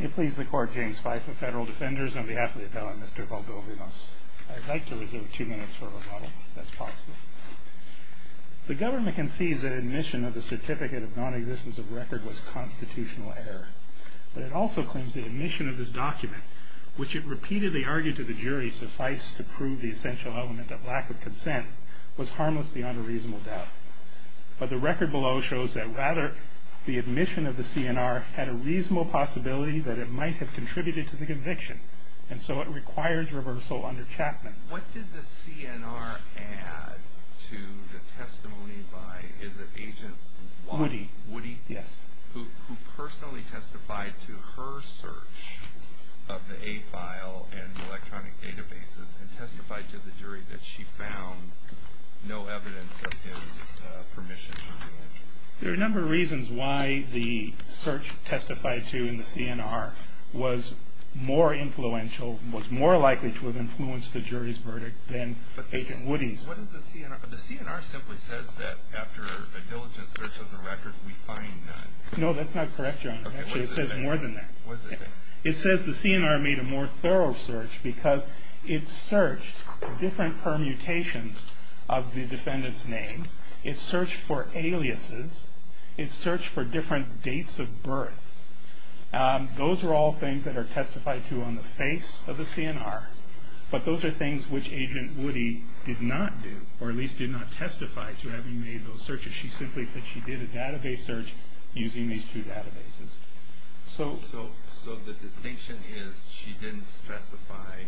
It pleases the Court, James Fife of Federal Defenders, on behalf of the appellant, Mr. Valdovinos. I'd like to reserve two minutes for rebuttal, if that's possible. The government concedes that admission of the certificate of nonexistence of record was constitutional error, but it also claims that admission of this document, which it repeatedly argued to the jury sufficed to prove the essential element of lack of consent, was harmless beyond a reasonable doubt. But the record below shows that, rather, the admission of the CNR had a reasonable possibility that it might have contributed to the conviction, and so it requires reversal under Chapman. What did the CNR add to the testimony by, is it Agent Watt? Woody. Woody? Yes. Who personally testified to her search of the A file and electronic databases and testified to the jury that she found no evidence of his permission to do it? There are a number of reasons why the search testified to in the CNR was more influential, was more likely to have influenced the jury's verdict than Agent Woody's. The CNR simply says that after a diligent search of the record, we find none. No, that's not correct, Your Honor. Okay, what does it say? It says more than that. What does it say? It says the CNR made a more thorough search because it searched different permutations of the defendant's name. It searched for aliases. It searched for different dates of birth. Those are all things that are testified to on the face of the CNR, but those are things which Agent Woody did not do, or at least did not testify to, having made those searches. She simply said she did a database search using these two databases. So the distinction is she didn't specify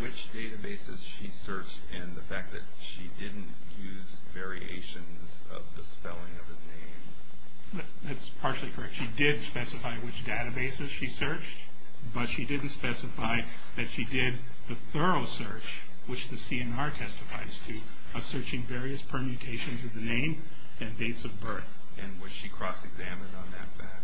which databases she searched and the fact that she didn't use variations of the spelling of his name. That's partially correct. She did specify which databases she searched, but she didn't specify that she did the thorough search, which the CNR testifies to, searching various permutations of the name and dates of birth. And was she cross-examined on that fact?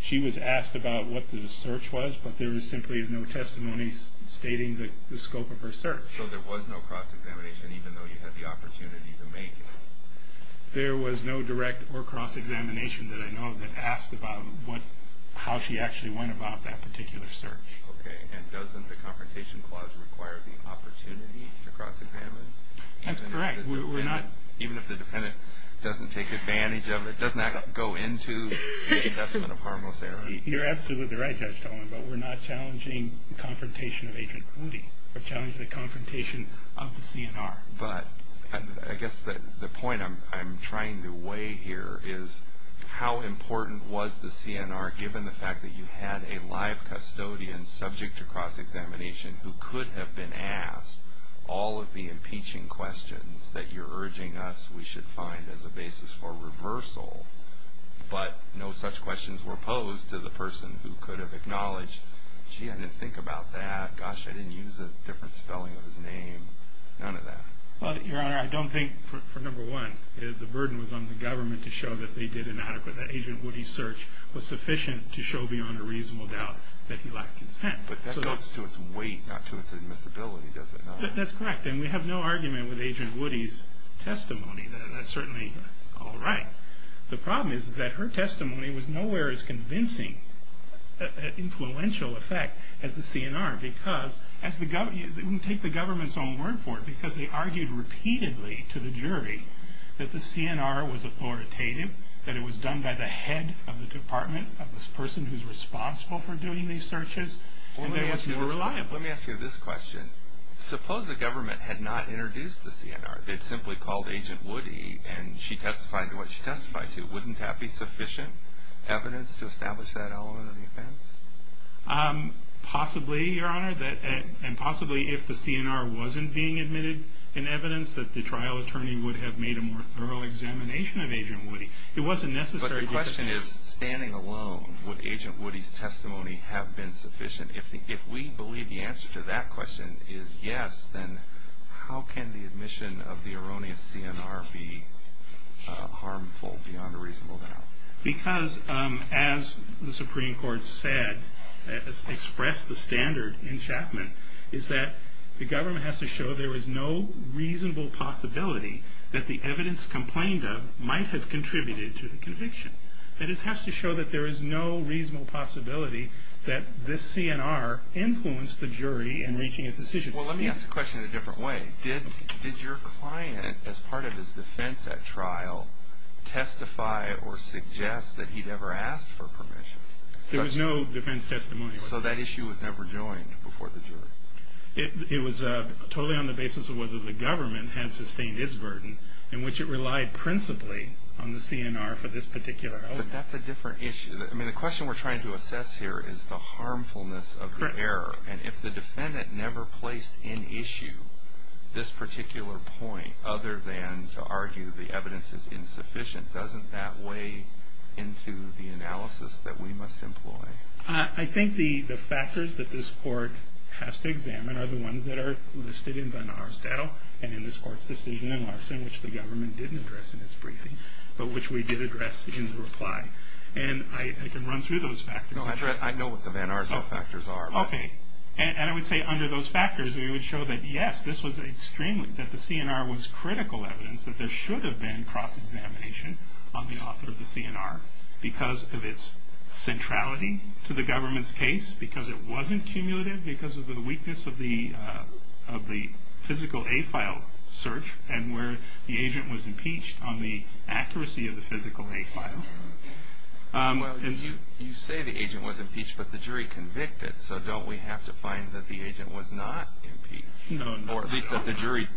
She was asked about what the search was, but there was simply no testimony stating the scope of her search. So there was no cross-examination even though you had the opportunity to make it? There was no direct or cross-examination that I know of that asked about how she actually went about that particular search. Okay, and doesn't the Confrontation Clause require the opportunity to cross-examine? That's correct. Even if the defendant doesn't take advantage of it, doesn't that go into the investment of harmless error? You're absolutely right, Judge Tolman, but we're not challenging the confrontation of Agent Hootie. We're challenging the confrontation of the CNR. But I guess the point I'm trying to weigh here is how important was the CNR, given the fact that you had a live custodian subject to cross-examination who could have been asked all of the impeaching questions that you're urging us we should find as a basis for reversal, but no such questions were posed to the person who could have acknowledged, gee, I didn't think about that, gosh, I didn't use a different spelling of his name, none of that. Your Honor, I don't think, for number one, the burden was on the government to show that they did an adequate, that Agent Hootie's search was sufficient to show beyond a reasonable doubt that he lacked consent. But that goes to its weight, not to its admissibility, does it not? That's correct, and we have no argument with Agent Hootie's testimony. That's certainly all right. The problem is that her testimony was nowhere as convincing an influential effect as the CNR, because as the government, take the government's own word for it, because they argued repeatedly to the jury that the CNR was authoritative, that it was done by the head of the department, of the person who's responsible for doing these searches, and that it was more reliable. Let me ask you this question. Suppose the government had not introduced the CNR, they'd simply called Agent Hootie and she testified to what she testified to. Wouldn't that be sufficient evidence to establish that element of the offense? Possibly, Your Honor, and possibly if the CNR wasn't being admitted in evidence, that the trial attorney would have made a more thorough examination of Agent Hootie. But the question is, standing alone, would Agent Hootie's testimony have been sufficient? If we believe the answer to that question is yes, then how can the admission of the erroneous CNR be harmful beyond a reasonable doubt? Because, as the Supreme Court said, expressed the standard in Chapman, is that the government has to show there is no reasonable possibility that the evidence complained of might have contributed to the conviction. That is, it has to show that there is no reasonable possibility that this CNR influenced the jury in reaching its decision. Well, let me ask the question in a different way. Did your client, as part of his defense at trial, testify or suggest that he'd ever asked for permission? There was no defense testimony. So that issue was never joined before the jury? It was totally on the basis of whether the government had sustained its burden in which it relied principally on the CNR for this particular argument. But that's a different issue. I mean, the question we're trying to assess here is the harmfulness of the error. And if the defendant never placed in issue this particular point other than to argue the evidence is insufficient, doesn't that weigh into the analysis that we must employ? I think the factors that this court has to examine are the ones that are listed in Van Aerstadtel and in this court's decision in Larson, which the government didn't address in its briefing, but which we did address in the reply. And I can run through those factors. No, I know what the Van Aerstadtel factors are. Okay. And I would say under those factors we would show that, yes, this was extremely, that the CNR was critical evidence that there should have been cross-examination on the author of the CNR because of its centrality to the government's case, because it wasn't cumulative, because of the weakness of the physical A file search and where the agent was impeached on the accuracy of the physical A file. Well, you say the agent was impeached, but the jury convicted. So don't we have to find that the agent was not impeached? No, no. Or at least that the jury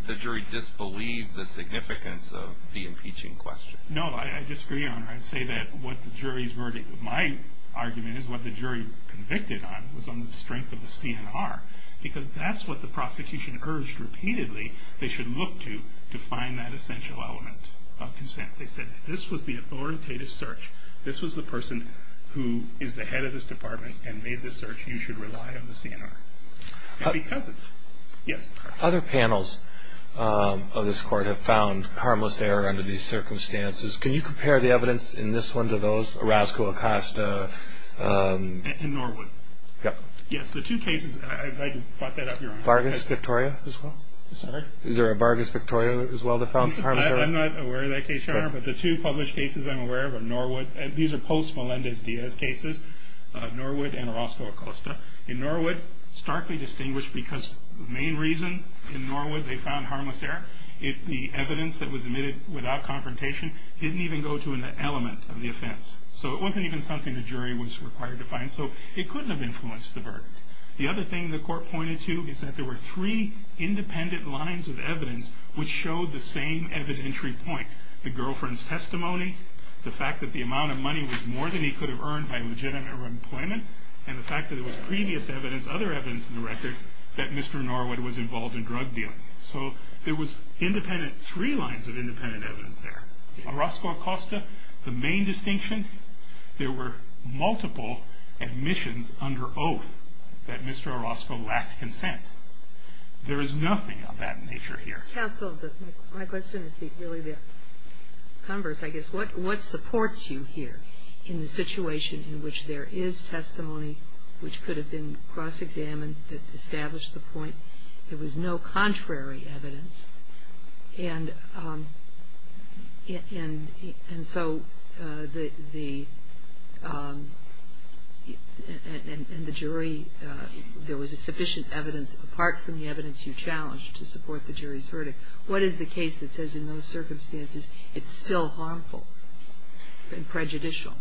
disbelieved the significance of the impeaching question. No, I disagree, Your Honor. I'd say that what the jury's verdict, my argument is what the jury convicted on was on the strength of the CNR because that's what the prosecution urged repeatedly they should look to to find that essential element of consent. They said this was the authoritative search. This was the person who is the head of this department and made the search you should rely on the CNR. Yes. Other panels of this court have found harmless error under these circumstances. Can you compare the evidence in this one to those, Orozco-Acosta? And Norwood. Yes. The two cases, I'd like to plot that up, Your Honor. Vargas-Victoria as well? Sorry? Is there a Vargas-Victoria as well that found harmless error? I'm not aware of that case, Your Honor, but the two published cases I'm aware of are Norwood. These are post-Melendez-Diaz cases, Norwood and Orozco-Acosta. In Norwood, starkly distinguished because the main reason in Norwood they found harmless error, the evidence that was admitted without confrontation didn't even go to an element of the offense. So it wasn't even something the jury was required to find. So it couldn't have influenced the verdict. The other thing the court pointed to is that there were three independent lines of evidence which showed the same evidentiary point, the girlfriend's testimony, the fact that the amount of money was more than he could have earned by legitimate employment, and the fact that there was previous evidence, other evidence in the record, that Mr. Norwood was involved in drug dealing. So there was independent, three lines of independent evidence there. Orozco-Acosta, the main distinction, there were multiple admissions under oath that Mr. Orozco lacked consent. There is nothing of that nature here. Counsel, my question is really the converse, I guess. What supports you here in the situation in which there is testimony which could have been cross-examined that established the point. There was no contrary evidence, and so the jury, there was sufficient evidence apart from the evidence you challenged to support the jury's verdict. What is the case that says in those circumstances it's still harmful and prejudicial?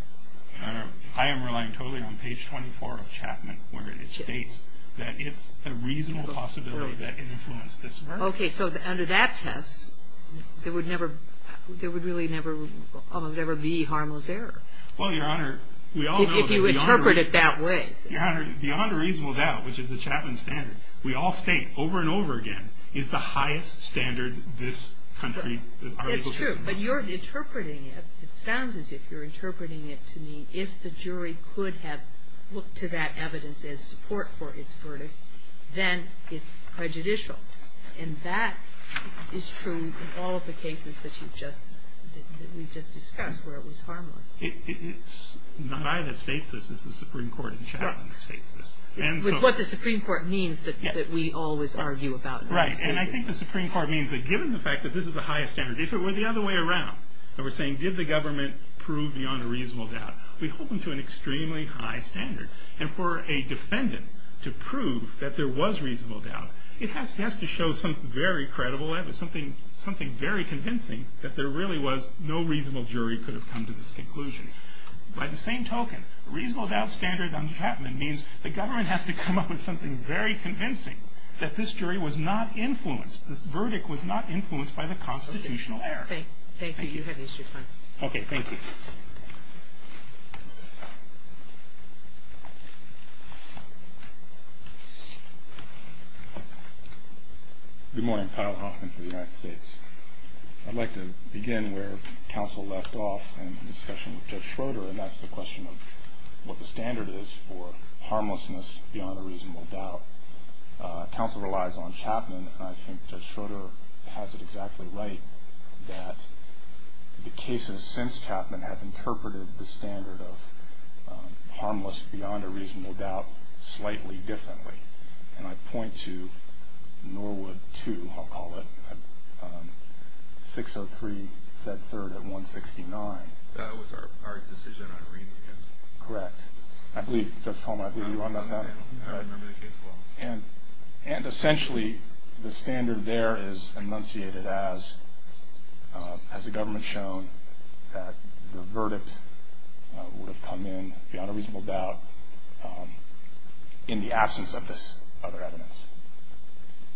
I am relying totally on page 24 of Chapman, where it states that it's a reasonable possibility that it influenced this verdict. Okay, so under that test, there would never, there would really never, almost never be harmless error. Well, Your Honor, we all know that beyond a reasonable doubt, which is the Chapman standard, we all state over and over again, it's the highest standard this country. It's true, but you're interpreting it, it sounds as if you're interpreting it to mean if the jury could have looked to that evidence as support for its verdict, then it's prejudicial. And that is true of all of the cases that you've just, that we've just discussed where it was harmless. It's not I that states this, it's the Supreme Court in Chapman that states this. It's what the Supreme Court means that we always argue about. Right, and I think the Supreme Court means that given the fact that this is the highest standard, if it were the other way around, and we're saying did the government prove beyond a reasonable doubt, we hold them to an extremely high standard. And for a defendant to prove that there was reasonable doubt, it has to show something very credible, something very convincing that there really was no reasonable jury could have come to this conclusion. By the same token, reasonable doubt standard under Chapman means the government has to come up with something very convincing that this jury was not influenced, this verdict was not influenced by the constitutional error. Thank you. Okay, thank you. Good morning, Kyle Hoffman for the United States. I'd like to begin where counsel left off in the discussion with Judge Schroeder, and that's the question of what the standard is for harmlessness beyond a reasonable doubt. Counsel relies on Chapman, and I think Judge Schroeder has it exactly right that the cases since Chapman have interpreted the standard of harmless beyond a reasonable doubt slightly differently. And I point to Norwood 2, I'll call it, 603 Fed 3rd at 169. That was our decision on Ream again. Correct. I believe, Judge Holm, I believe you're on that now? I remember the case well. And essentially the standard there is enunciated as has the government shown that the verdict would have come in beyond a reasonable doubt in the absence of this other evidence.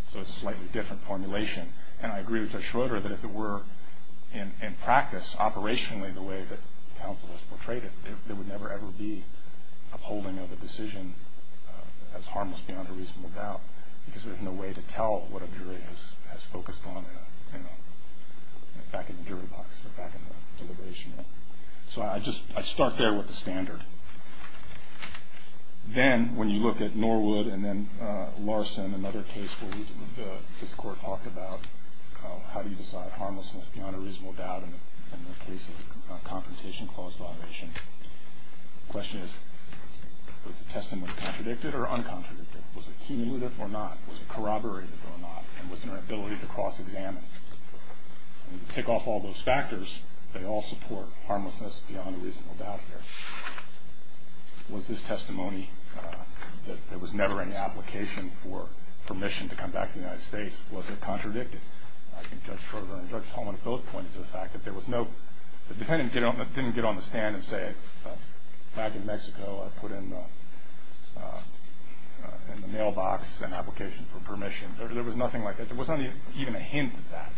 So it's a slightly different formulation. And I agree with Judge Schroeder that if it were in practice operationally the way that counsel has portrayed it, there would never ever be a holding of a decision as harmless beyond a reasonable doubt because there's no way to tell what a jury has focused on back in the jury box or back in the deliberation room. So I start there with the standard. Then when you look at Norwood and then Larson, another case where this court talked about how do you decide harmlessness beyond a reasonable doubt in the case of a confrontation clause deliberation, the question is was the testimony contradicted or uncontradicted? Was it cumulative or not? Was it corroborated or not? And was there an ability to cross-examine? And to tick off all those factors, they all support harmlessness beyond a reasonable doubt here. Was this testimony that there was never any application for permission to come back to the United States? Was it contradicted? I think Judge Schroeder and Judge Tolman both pointed to the fact that there was no the defendant didn't get on the stand and say back in Mexico I put in the mailbox an application for permission. There was nothing like that. There wasn't even a hint of that.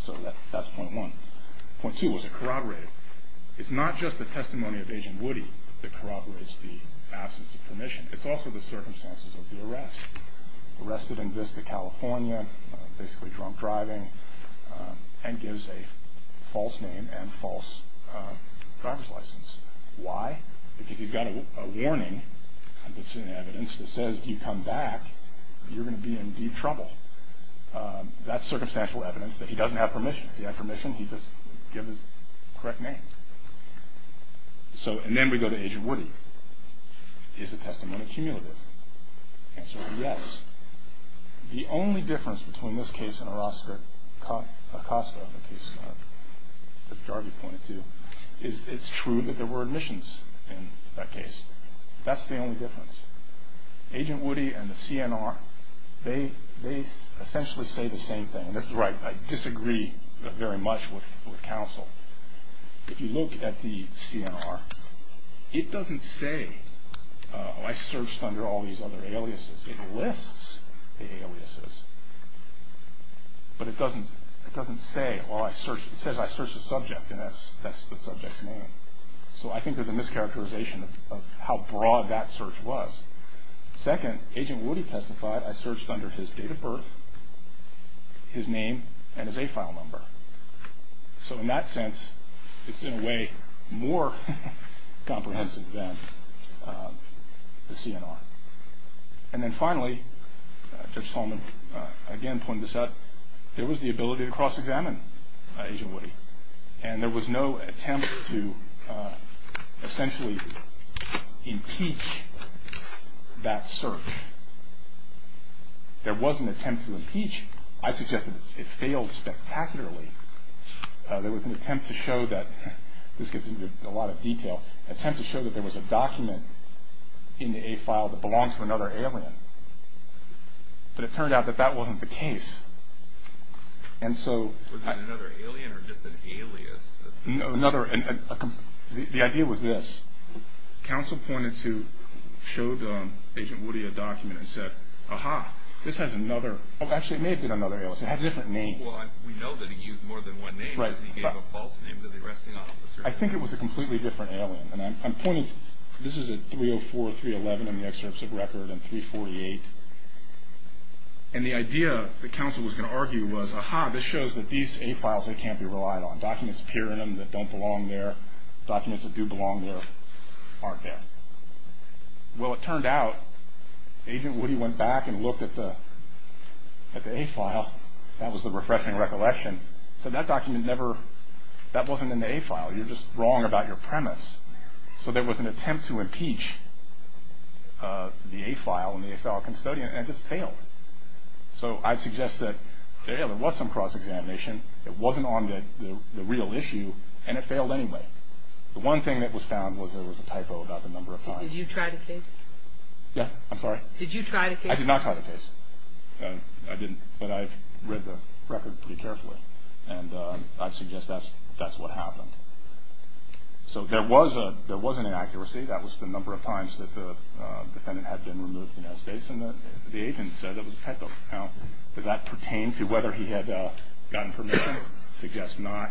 So that's point one. Point two, was it corroborated? It's not just the testimony of Agent Woody that corroborates the absence of permission. It's also the circumstances of the arrest. Arrested in Vista, California, basically drunk driving, and gives a false name and false driver's license. Why? Because he's got a warning that's in the evidence that says if you come back, you're going to be in deep trouble. That's circumstantial evidence that he doesn't have permission. If he had permission, he'd just give his correct name. And then we go to Agent Woody. Is the testimony cumulative? The answer is yes. The only difference between this case and Orozco-Costa, the case that Jarvi pointed to, is it's true that there were admissions in that case. That's the only difference. Agent Woody and the CNR, they essentially say the same thing. And that's right. I disagree very much with counsel. If you look at the CNR, it doesn't say, oh, I searched under all these other aliases. It lists the aliases. But it doesn't say, oh, it says I searched the subject, and that's the subject's name. So I think there's a mischaracterization of how broad that search was. Second, Agent Woody testified, I searched under his date of birth, his name, and his A-file number. So in that sense, it's in a way more comprehensive than the CNR. And then finally, Judge Solomon again pointed this out, there was the ability to cross-examine Agent Woody. And there was no attempt to essentially impeach that search. There was an attempt to impeach. I suggest that it failed spectacularly. There was an attempt to show that, this gets into a lot of detail, attempt to show that there was a document in the A-file that belonged to another alien. But it turned out that that wasn't the case. Was it another alien or just an alias? The idea was this. Counsel pointed to, showed Agent Woody a document and said, aha, this has another, oh, actually, it may have been another alias. It had a different name. Well, we know that he used more than one name because he gave a false name to the arresting officer. I think it was a completely different alien. And I'm pointing, this is at 304, 311 in the excerpts of record and 348. And the idea that counsel was going to argue was, aha, this shows that these A-files, they can't be relied on. Documents appear in them that don't belong there. Documents that do belong there aren't there. Well, it turned out Agent Woody went back and looked at the A-file. That was the refreshing recollection. So that document never, that wasn't in the A-file. You're just wrong about your premise. So there was an attempt to impeach the A-file and the A-file custodian, and it just failed. So I suggest that, yeah, there was some cross-examination. It wasn't on the real issue, and it failed anyway. The one thing that was found was there was a typo about the number of times. Did you try to case it? Yeah, I'm sorry? Did you try to case it? I did not try to case it. I didn't, but I read the record pretty carefully. And I suggest that's what happened. So there was an inaccuracy. That was the number of times that the defendant had been removed from the United States, and the agent said it was a typo. Now, does that pertain to whether he had gotten permission? I suggest not.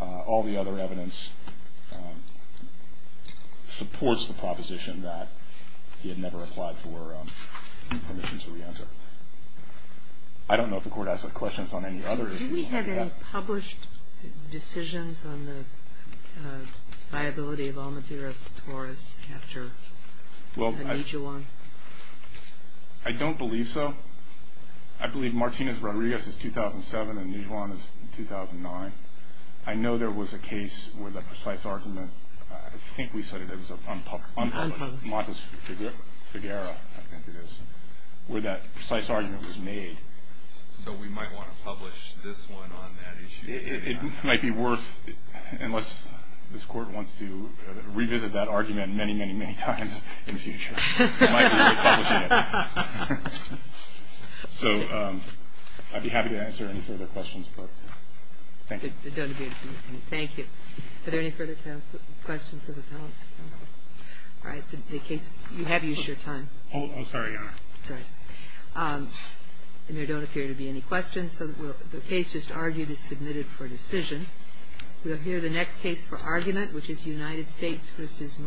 All the other evidence supports the proposition that he had never applied for permission to reenter. I don't know if the Court has questions on any others. Did we have any published decisions on the viability of Almavir's Taurus after Nijuan? I don't believe so. I believe Martinez-Rodriguez is 2007 and Nijuan is 2009. I know there was a case with a precise argument. I think we said it was unpublished. Montes Figueroa, I think it is. Where that precise argument was made. So we might want to publish this one on that issue. It might be worth, unless this Court wants to revisit that argument many, many, many times in the future. It might be worth publishing it. So I'd be happy to answer any further questions. Thank you. Thank you. Are there any further questions of the panel? All right. You have used your time. Oh, sorry, Your Honor. Sorry. There don't appear to be any questions. The case just argued is submitted for decision. We'll hear the next case for argument, which is United States v. Murillo-Perez.